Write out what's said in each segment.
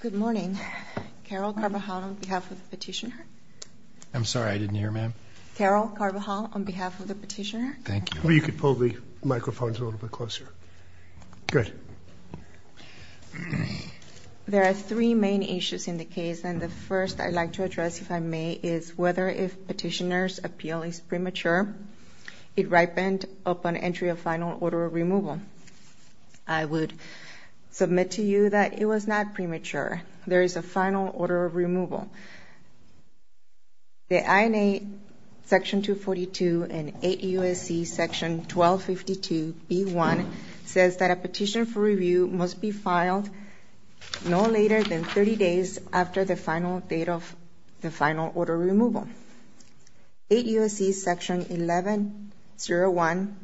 Good morning. Carol Carbajal on behalf of the petitioner. I'm sorry I didn't hear ma'am. Carol Carbajal on behalf of the petitioner. Thank you. Well you could pull the microphones a little bit closer. Good. There are three main issues in the case and the first I'd like to address if I may is whether if petitioners appeal is premature it ripened upon entry of final order of removal. I would submit to you that it was not premature. There is a final order of removal. The INA section 242 and 8 U.S.C. section 1252 B1 says that a petition for review must be filed no later than 30 days after the final date of the final order removal. 8 U.S.C. section 1101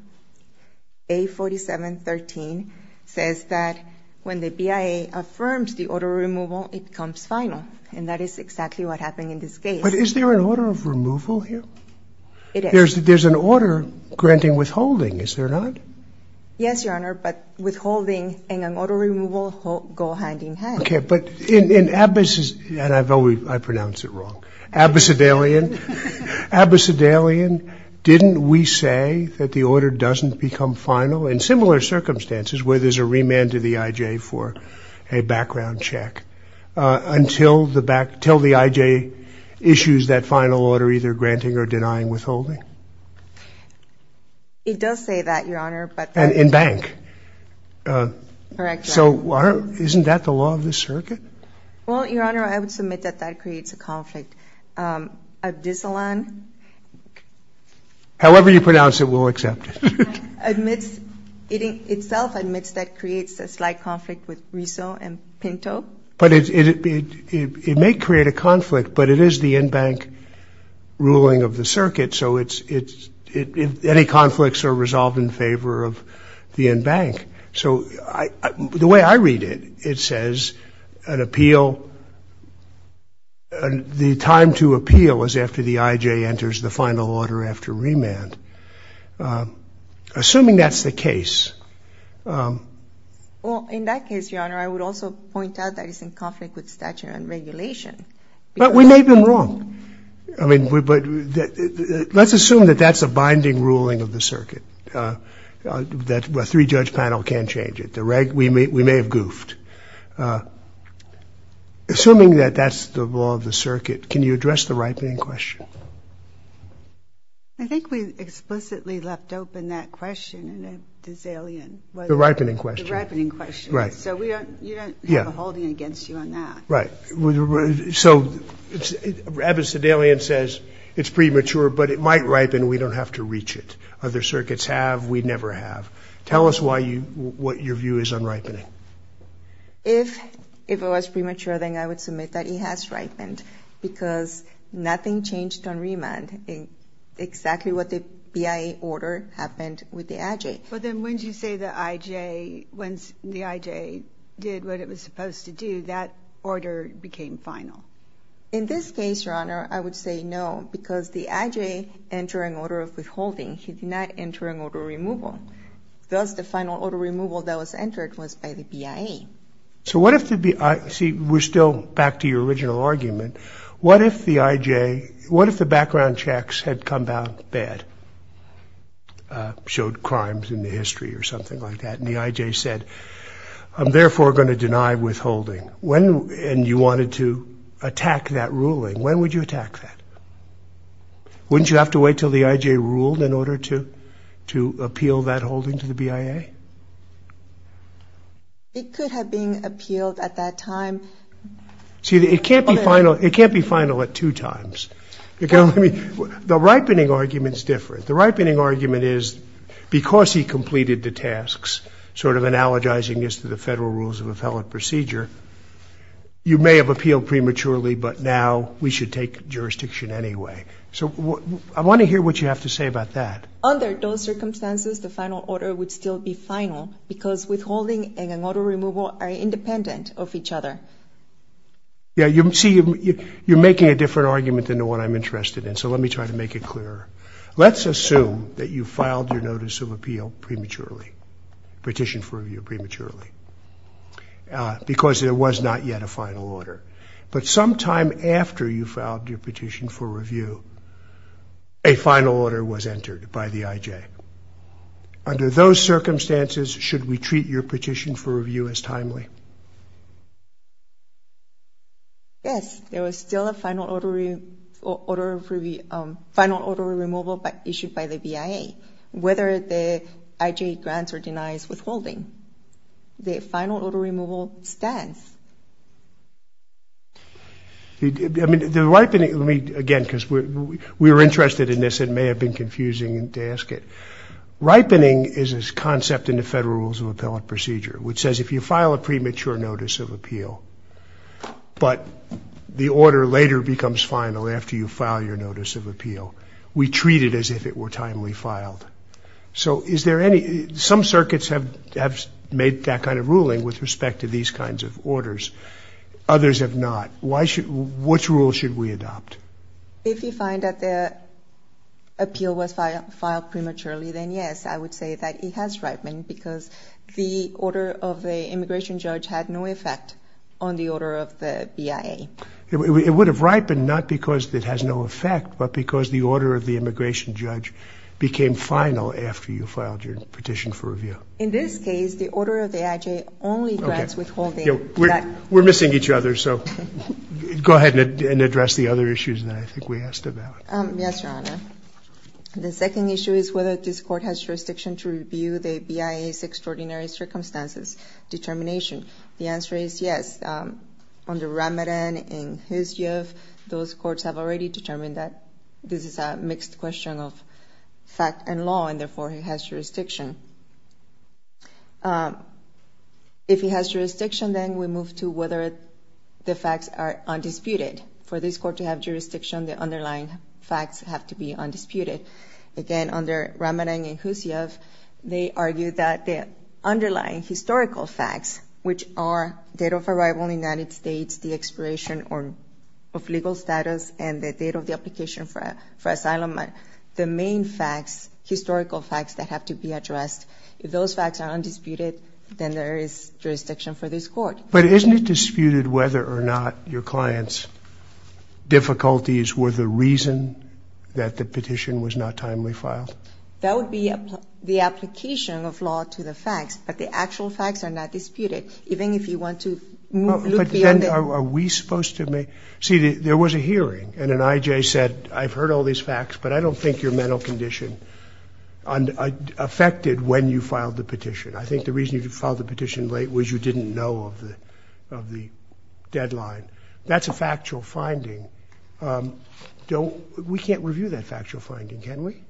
A4713 says that when the BIA affirms the order removal it comes final and that is exactly what happened in this case. But is there an order of removal here? It is. There's an order granting withholding, is there not? Yes, Your Honor, but withholding and an order of removal go hand in hand. Okay, but in Abbas's case, and I've always pronounced it wrong, Abbas Adalian, didn't we say that the order doesn't become final in similar circumstances where there's a remand to the IJ for a background check until the back, until the IJ issues that final order either granting or denying withholding? It does say that, Your Honor, but. And in that case, is that the law of the circuit? Well, Your Honor, I would submit that that creates a conflict. Abdisalan. However you pronounce it, we'll accept it. Admits, itself admits that creates a slight conflict with Riso and Pinto. But it may create a conflict, but it is the in-bank ruling of the circuit, so any conflicts are resolved in favor of the in-bank. So the way I read it, it says an appeal, the time to appeal is after the IJ enters the final order after remand. Assuming that's the case. Well, in that case, Your Honor, I would also point out that it's in conflict with statute and regulation. But we may have been wrong. I mean, but let's assume that that's a binding ruling of the circuit, that a three-judge panel can't change it. We may have goofed. Assuming that that's the law of the circuit, can you address the ripening question? I think we explicitly left open that question in Abdisalan. The ripening question. The ripening question. Right. So we don't, you don't have a holding against you on that. Right. So Abdisalan says it's premature, but it might ripen, we don't have to reach it. Other circuits have, we never have. Tell us why you, what your view is on ripening. If it was premature, then I would submit that it has ripened, because nothing changed on remand. Exactly what the BIA order happened with the IJ. But then when you say the IJ, when the IJ did what it was supposed to do, that order became final. In this case, Your Honor, I would say no, because the IJ entering order of withholding, he did not enter an order of removal. Thus, the final order of removal that was entered was by the BIA. So what if the BIA, see, we're still back to your original argument. What if the IJ, what if the background checks had come down bad, showed crimes in the history or something like that, and the IJ said, I'm therefore going to deny withholding. When, and you wanted to attack that ruling, when would you attack that? Wouldn't you have to wait until the IJ ruled in order to appeal that holding to the BIA? It could have been appealed at that time. See, it can't be final, it can't be final at two times. The ripening argument's different. The ripening argument is, because he completed the tasks, sort of analogizing this to the federal rules of appellate procedure, you may have appealed prematurely, but now we should take jurisdiction anyway. So I want to hear what you have to say about that. Under those circumstances, the final order would still be final, because withholding and an order of removal are independent of each other. Yeah, you see, you're making a different argument than the one I'm interested in, so let me try to make it clearer. Let's assume that you filed your notice of appeal prematurely, petition for review prematurely, because there was not yet a final order. But sometime after you filed your petition for review, a final order was entered by the IJ. Under those circumstances, should we treat your petition for review as timely? Yes, there was still a final order of removal issued by the BIA, whether the IJ grants or denies withholding. The final order removal stands. I mean, the ripening, let me, again, because we were interested in this, it may have been confusing to ask it. Ripening is this concept in the federal rules of appellate procedure, which says if you file a premature notice of appeal, but the order later becomes final after you file your notice of appeal. We treat it as if it were timely filed. So is there any, some circuits have made that kind of ruling with respect to these kinds of orders. Others have not. Why should, which rules should we adopt? If you find that the appeal was filed prematurely, then yes, I would say that it has ripened, because the order of the immigration judge had no effect on the order of the BIA. It would have ripened not because it has no effect, but because the order of the immigration judge became final after you filed your petition for review. In this case, the order of the IJ only grants withholding. We're missing each other, so go ahead and address the other issues that I think we asked about. Yes, Your Honor. The second issue is whether this court has jurisdiction to review the BIA's extraordinary circumstances determination. The answer is yes. Under Ramadan and Khusyov, those courts have already determined that this is a mixed question of fact and law, and therefore it has jurisdiction. If it has jurisdiction, then we move to whether the facts are undisputed. For this court to have jurisdiction, the underlying facts have to be undisputed. Again, under Ramadan and Khusyov, which are the date of arrival in the United States, the expiration of legal status, and the date of the application for asylum, the main facts, historical facts that have to be addressed, if those facts are undisputed, then there is jurisdiction for this court. But isn't it disputed whether or not your client's difficulties were the reason that the petition was not timely filed? That would be the application of law to the facts, but the actual facts are not disputed, even if you want to look beyond it. See, there was a hearing, and an I.J. said, I've heard all these facts, but I don't think your mental condition affected when you filed the petition. I think the reason you filed the petition late was you didn't know of the deadline. That's a factual finding. We can't review that factual finding, can we?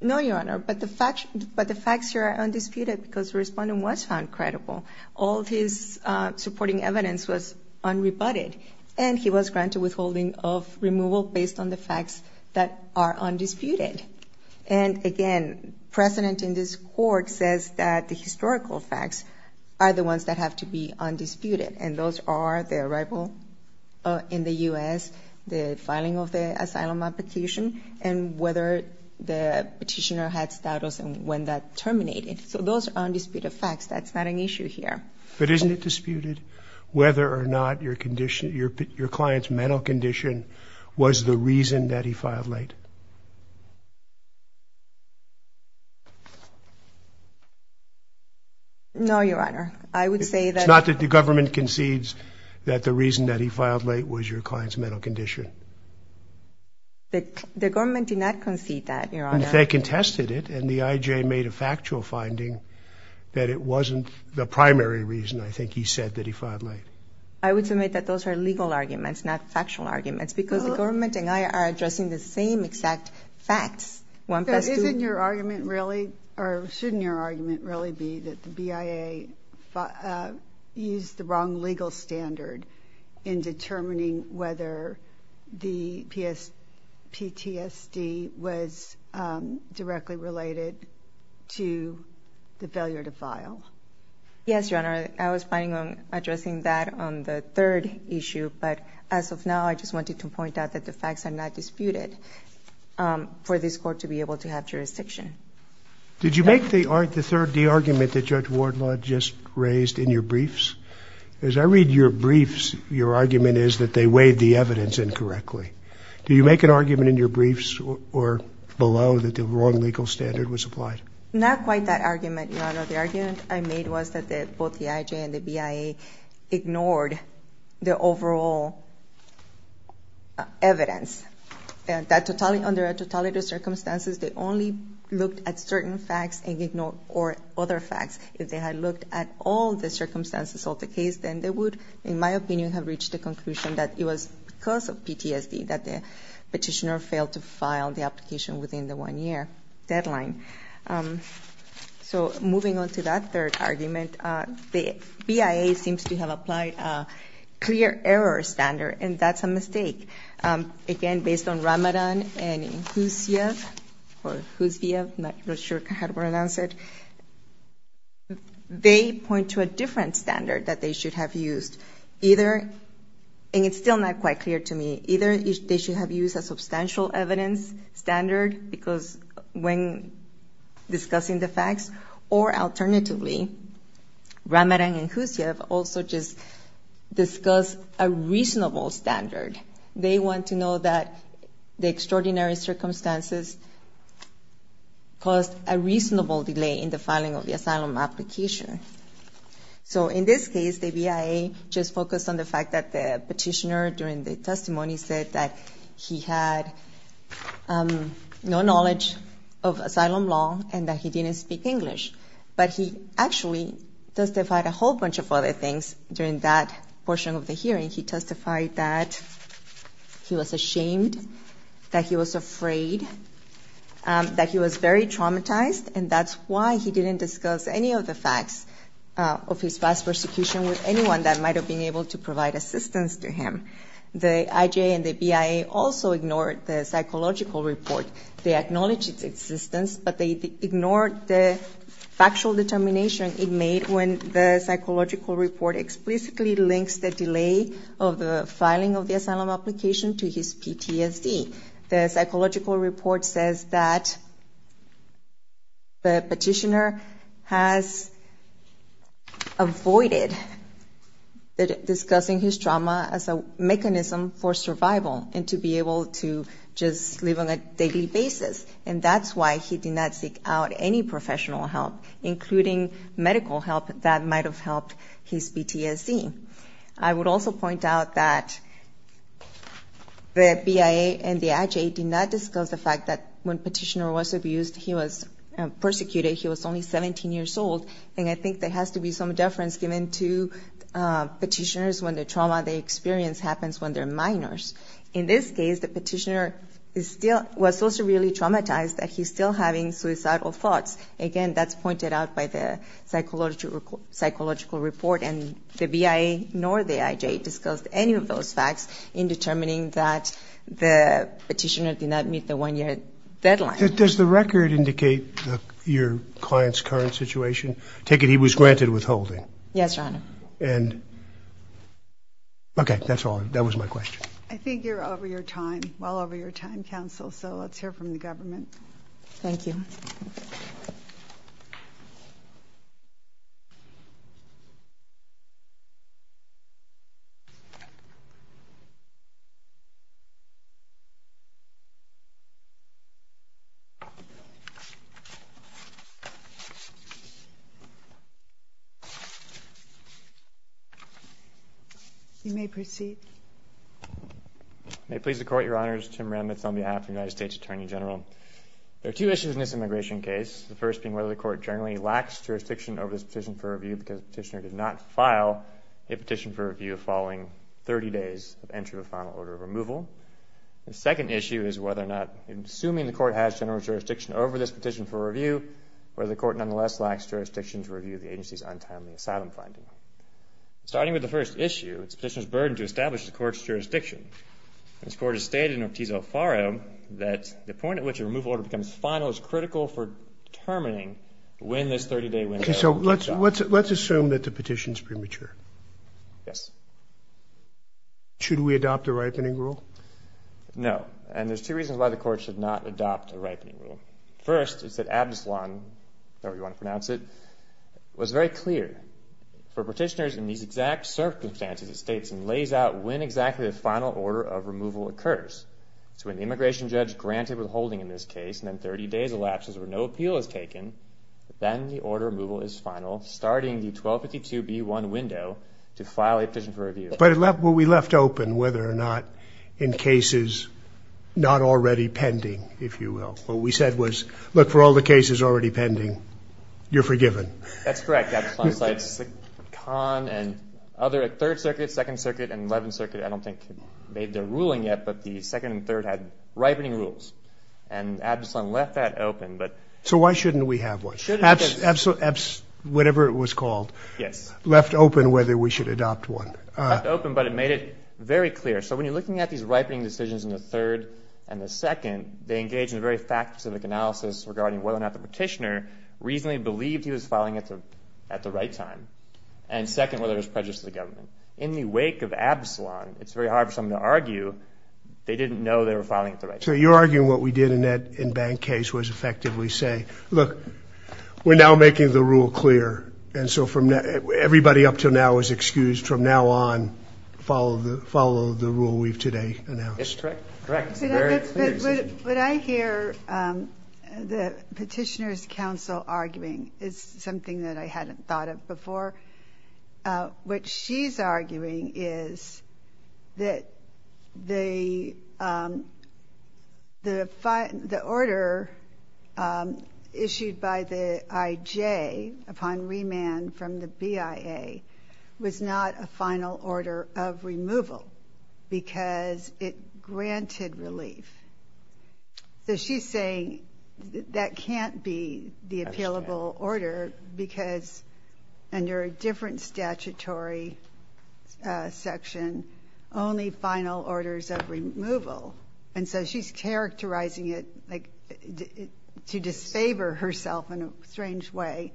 No, Your Honor, but the facts here are undisputed because the respondent was found credible. All his supporting evidence was unrebutted, and he was granted withholding of removal based on the facts that are undisputed. And again, precedent in this court says that the historical facts are the ones that have to be undisputed, and those are the arrival in the U.S., the filing of the asylum application, and whether the petitioner had status and when that terminated. So those are undisputed facts. That's not an issue here. But isn't it disputed whether or not your client's mental condition was the reason that he filed late? No, Your Honor. I would say that... The government did not concede that, Your Honor. They contested it, and the I.J. made a factual finding that it wasn't the primary reason, I think, he said that he filed late. I would submit that those are legal arguments, not factual arguments, because the government and I are addressing the same exact facts. Isn't your argument really, or shouldn't your argument really be that the BIA used the wrong legal standard in determining whether the PTSD was directly related to the failure to file? Yes, Your Honor. I was planning on addressing that on the third issue. But as of now, I just wanted to point out that the facts are not disputed for this court to be able to have jurisdiction. Did you make the argument that Judge Wardlaw just raised in your briefs? As I read your briefs, your argument is that they weighed the evidence incorrectly. Did you make an argument in your briefs or below that the wrong legal standard was applied? Not quite that argument, Your Honor. The argument I made was that both the I.J. and the BIA ignored the overall evidence. Under a totality of circumstances, they only looked at certain facts and ignored other facts. If they had looked at all the circumstances of the case, then they would, in my opinion, have reached the conclusion that it was because of PTSD that the petitioner failed to file the application within the one-year deadline. So moving on to that third argument, the BIA seems to have applied a clear error standard, and that's a mistake. Again, based on Ramadan and Huzia, not sure how to pronounce it, they point to a different standard that they should have used. Either, and it's still not quite clear to me, either they should have used a substantial evidence standard, because when discussing the facts, or alternatively, Ramadan and Huzia have also just discussed a reasonable standard. They want to know that the extraordinary circumstances caused a reasonable delay in the filing of the asylum application. So in this case, the BIA just focused on the fact that the petitioner, during the testimony, said that he had no knowledge of asylum law and that he didn't speak English. But he actually testified a whole bunch of other things during that portion of the hearing. He testified that he was ashamed, that he was afraid, that he was very traumatized, and that's why he didn't discuss any of the facts of his past persecution with anyone that might have been able to provide assistance to him. The IJA and the BIA also ignored the psychological report. They acknowledged its existence, but they ignored the factual determination it made when the psychological report explicitly links the delay of the filing of the asylum application to his PTSD. The psychological report says that the petitioner has avoided discussing his trauma as a mechanism for survival and to be able to just live on a daily basis, and that's why he did not seek out any professional help, including medical help that might have helped his PTSD. I would also point out that the BIA and the IJA did not discuss the fact that when the petitioner was abused, he was persecuted, he was only 17 years old, and I think there has to be some deference given to petitioners when the trauma they experience happens when they're minors. In this case, the petitioner was also really traumatized that he's still having suicidal thoughts. Again, that's pointed out by the psychological report, and the BIA nor the IJA discussed any of those facts in determining that the petitioner did not meet the one-year deadline. Does the record indicate your client's current situation? Take it he was granted withholding. Yes, Your Honor. Okay, that's all. That was my question. Thank you. You may proceed. May it please the Court, Your Honors. There are two issues in this immigration case, the first being whether the Court generally lacks jurisdiction over this petition for review because the petitioner did not file a petition for review following 30 days of entry with final order of removal. The second issue is whether or not, assuming the Court has general jurisdiction over this petition for review, whether the Court nonetheless lacks jurisdiction to review the agency's untimely asylum finding. Starting with the first issue, it's the petitioner's burden to establish the Court's jurisdiction. This Court has stated in Ortiz-O'Farrow that the point at which a removal order becomes final is critical for determining when this 30-day window will close. Okay, so let's assume that the petition's premature. Yes. Should we adopt a ripening rule? No, and there's two reasons why the Court should not adopt a ripening rule. First, it's that Absalon, however you want to pronounce it, was very clear. For petitioners in these exact circumstances, it states and lays out when exactly the final order of removal occurs. So when the immigration judge granted withholding in this case and then 30 days elapses where no appeal is taken, then the order of removal is final, starting the 1252B1 window to file a petition for review. But we left open whether or not in cases not already pending, if you will, what we said was, look, for all the cases already pending, you're forgiven. That's correct, Absalon cites the Conn and other Third Circuit, Second Circuit, and Eleventh Circuit. I don't think they made their ruling yet, but the Second and Third had ripening rules, and Absalon left that open. So why shouldn't we have one? Whatever it was called, left open whether we should adopt one. Left open, but it made it very clear. So when you're looking at these ripening decisions in the Third and the Second, they engage in a very fact-specific analysis regarding whether or not the petitioner reasonably believed he was filing at the right time. And second, whether there was prejudice to the government. In the wake of Absalon, it's very hard for someone to argue they didn't know they were filing at the right time. So you're arguing what we did in that in-bank case was effectively say, look, we're now making the rule clear. And so everybody up until now was excused. From now on, follow the rule we've today announced. That's correct. What I hear the petitioner's counsel arguing is something that I hadn't thought of before. What she's arguing is that the order issued by the IJ upon remand from the BIA was not a final order of removal, because it granted relief. So she's saying that can't be the appealable order, because under a different statutory section, only final orders of removal. And so she's characterizing it to disfavor herself in a strange way.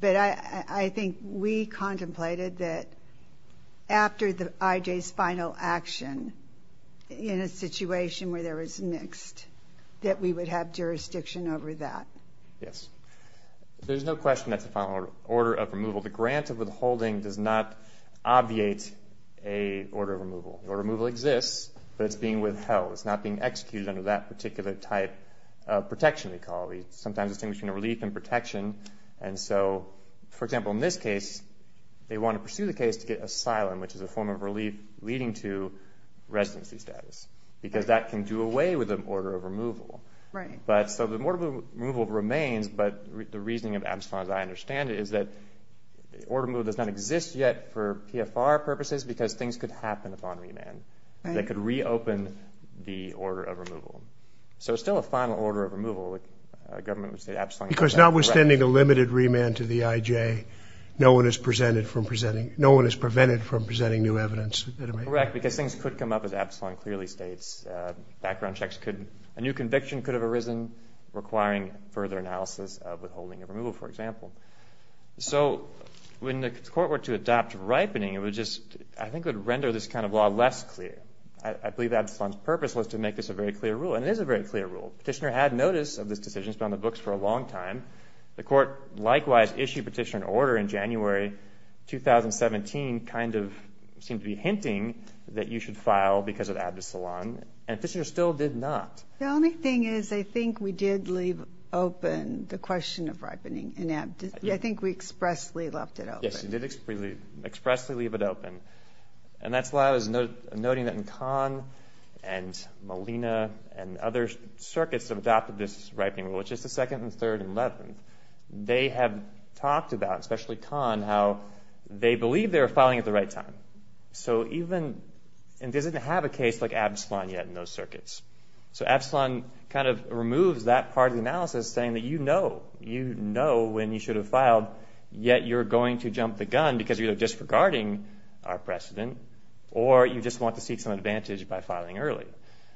But I think we contemplated that after the IJ's final order, if there was a final action in a situation where there was mixed, that we would have jurisdiction over that. Yes. There's no question that's a final order of removal. The grant of withholding does not obviate a order of removal. Order of removal exists, but it's being withheld. It's not being executed under that particular type of protection, we call it. Sometimes it's a thing between a relief and protection. And so, for example, in this case, they want to pursue the case to get asylum, which is a form of relief leading to residency status. Because that can do away with an order of removal. So the order of removal remains, but the reasoning of Amsterdam, as I understand it, is that order of removal does not exist yet for PFR purposes, because things could happen upon remand that could reopen the order of removal. So it's still a final order of removal. Because notwithstanding a limited remand to the IJ, no one is prevented from presenting new evidence. Correct. Because things could come up, as Absalon clearly states. Background checks could, a new conviction could have arisen requiring further analysis of withholding of removal, for example. So when the court were to adopt ripening, it would just, I think, would render this kind of law less clear. I believe Absalon's purpose was to make this a very clear rule, and it is a very clear rule. Petitioner had notice of this decision. It's been on the books for a long time. The court likewise issued Petitioner an order in January 2017, kind of seemed to be hinting that you should file because of Absalon, and Petitioner still did not. The only thing is, I think we did leave open the question of ripening in Absalon. I think we expressly left it open. Yes, you did expressly leave it open. And that's why I was noting that in Kahn and Molina and other circuits that have adopted this ripening rule, which is the second and third and eleventh, they have talked about, especially Kahn, how they believe they are filing at the right time. So even, and it doesn't have a case like Absalon yet in those circuits. So Absalon kind of removes that part of the analysis saying that you know. You know when you should have filed, yet you're going to jump the gun because you're either disregarding our precedent or you just want to seek some advantage by filing early.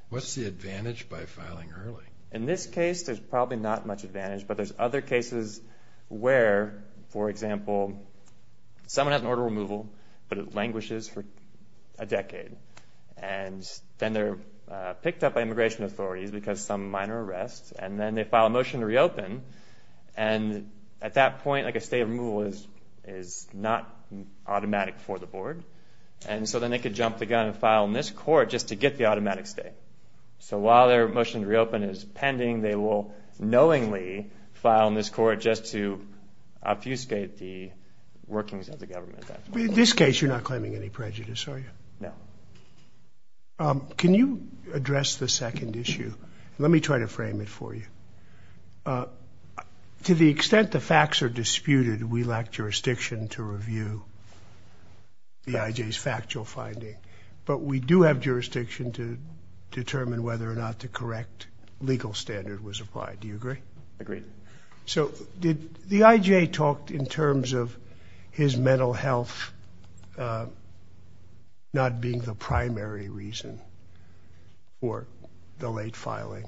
What's the advantage by filing early? In this case, there's probably not much advantage, but there's other cases where, for example, someone has an order of removal, but it languishes for a decade. And then they're picked up by immigration authorities because some minor arrest and then they file a motion to reopen. And at that point, like a state of removal is not automatic for the board. And so then they could jump the gun and file in this court just to get the automatic stay. So while their motion to reopen is pending, they will knowingly file in this court just to obfuscate the workings of the government. In this case, you're not claiming any prejudice, are you? No. Can you address the second issue? Let me try to frame it for you. To the extent the facts are disputed, we lack jurisdiction to review the IJ's factual finding. But we do have jurisdiction to determine whether or not the correct legal standard was applied. Do you agree? Agreed. So the IJ talked in terms of his mental health not being the primary reason for the late filing.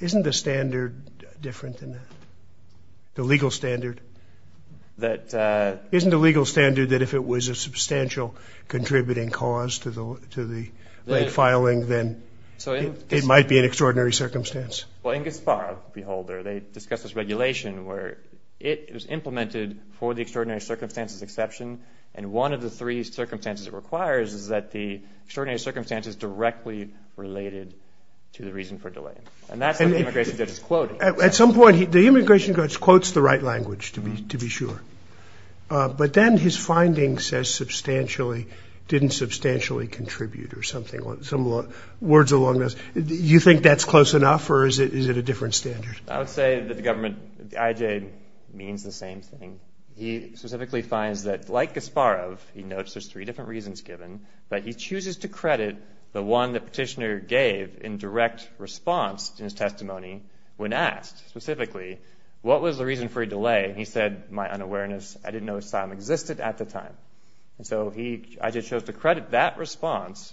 Isn't the standard different than that, the legal standard? Isn't the legal standard that if it was a substantial contributing cause to the late filing, then it might be an extraordinary circumstance? Well, in Gispar, Beholder, they discussed this regulation where it was implemented for the extraordinary circumstances exception. And one of the three circumstances it requires is that the extraordinary circumstances directly related to the reason for delay. And that's what the immigration judge is quoting. At some point, the immigration judge quotes the right language, to be sure. But then his finding says substantially, didn't substantially contribute or something, words along those lines. Do you think that's close enough, or is it a different standard? I would say that the government, the IJ, means the same thing. He specifically finds that, like Gispar, he notes there's three different reasons given, but he chooses to credit the one the petitioner gave in direct response to his testimony when asked specifically, what was the reason for a delay? And he said, my unawareness, I didn't know asylum existed at the time. And so IJ chose to credit that response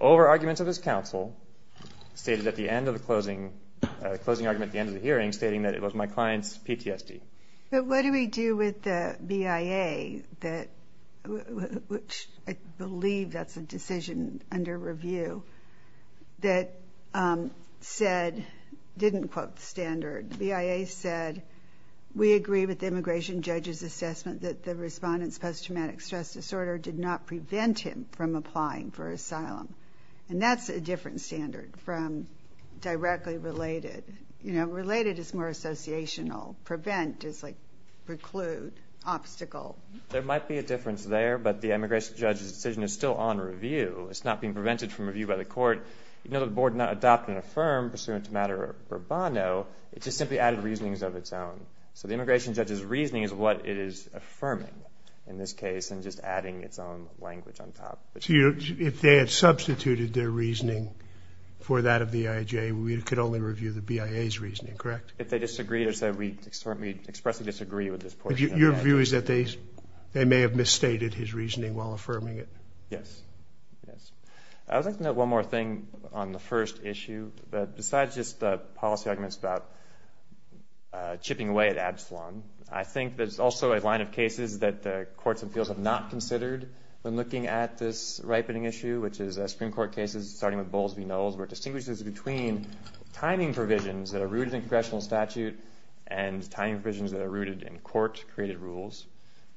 over arguments of his counsel, stated at the end of the closing argument at the end of the hearing, stating that it was my client's PTSD. But what do we do with the BIA, which I believe that's a decision under review, that said, didn't quote the standard. The BIA said, we agree with the immigration judge's assessment that the respondent's post-traumatic stress disorder did not prevent him from applying for asylum. And that's a different standard from directly related. Related is more associational. Prevent is preclude, obstacle. There might be a difference there, but the immigration judge's decision is still on review. It's not being prevented from review by the court. You know, the board did not adopt and affirm pursuant to matter urbano. It just simply added reasonings of its own. So the immigration judge's reasoning is what it is affirming in this case and just adding its own language on top. So if they had substituted their reasoning for that of the IJ, we could only review the BIA's reasoning, correct? If they disagreed or said we expressly disagree with this portion of the IJ. Your view is that they may have misstated his reasoning while affirming it? Yes. I would like to note one more thing on the first issue. Besides just the policy arguments about chipping away at Absalom, I think there's also a line of cases that the courts and fields have not considered when looking at this ripening issue, which is Supreme Court cases starting with Bowles v. Knowles, where it distinguishes between timing provisions that are rooted in congressional statute and timing provisions that are rooted in court-created rules.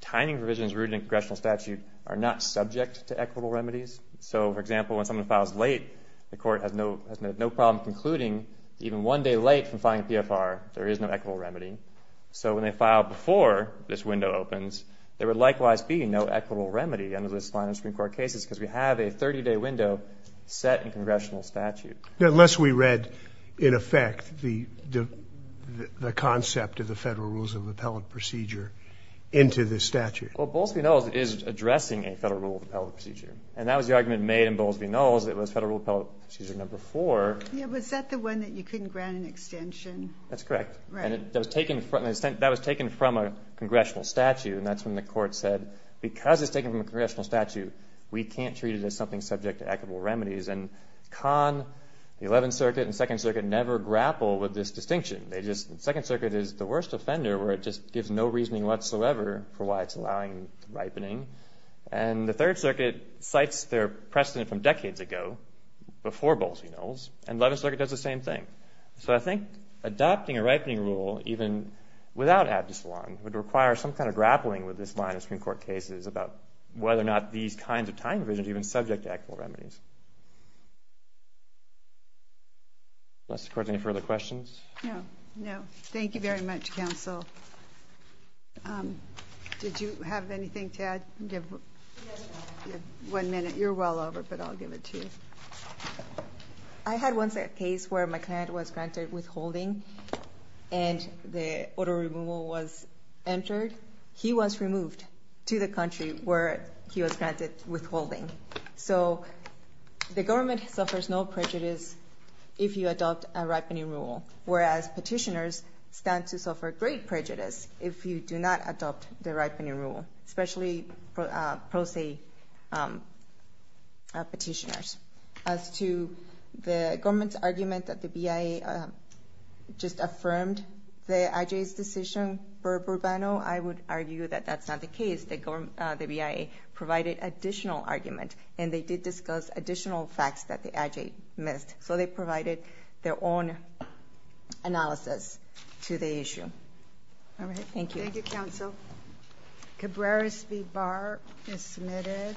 Timing provisions rooted in congressional statute are not subject to equitable remedies. So, for example, when someone files late, the court has no problem concluding even one day late from filing PFR. There is no equitable remedy. So when they file before this window opens, there would likewise be no equitable remedy under this line of Supreme Court cases because we have a 30-day window set in congressional statute. Unless we read, in effect, the concept of the Federal Rules of Appellate Procedure into the statute. Well, Bowles v. Knowles is addressing a Federal Rule of Appellate Procedure. And that was the argument made in Bowles v. Knowles. It was Federal Rule of Appellate Procedure No. 4. Yeah, was that the one that you couldn't grant an extension? That's correct. And that was taken from a congressional statute. And that's when the court said, because it's taken from a congressional statute, we can't treat it as something subject to equitable remedies. And Kahn, the 11th Circuit, and the 2nd Circuit never grapple with this distinction. The 2nd Circuit is the worst offender where it just gives no reasoning whatsoever for why it's allowing ripening. And the 3rd Circuit cites their precedent from decades ago before Bowles v. Knowles, and the 11th Circuit does the same thing. So I think adopting a ripening rule, even without abdessalon, would require some kind of grappling with this line of Supreme Court cases about whether or not these kinds of time provisions are even subject to equitable remedies. Does the Court have any further questions? No. Thank you very much, Counsel. Did you have anything to add? Give one minute. You're well over, but I'll give it to you. I had one case where my client was granted withholding, and the auto removal was entered. He was removed to the country where he was granted withholding. So the government suffers no prejudice if you adopt a ripening rule, whereas petitioners stand to suffer great prejudice if you do not adopt the ripening rule, especially pro se petitioners. As to the government's argument that the BIA just affirmed the IJ's decision for Bourbano, I would argue that that's not the case. The BIA provided additional argument, and they did discuss additional facts that the IJ missed. So they provided their own analysis to the issue. All right. Thank you. Thank you, Counsel. Cabrera-Speed Bar is submitted.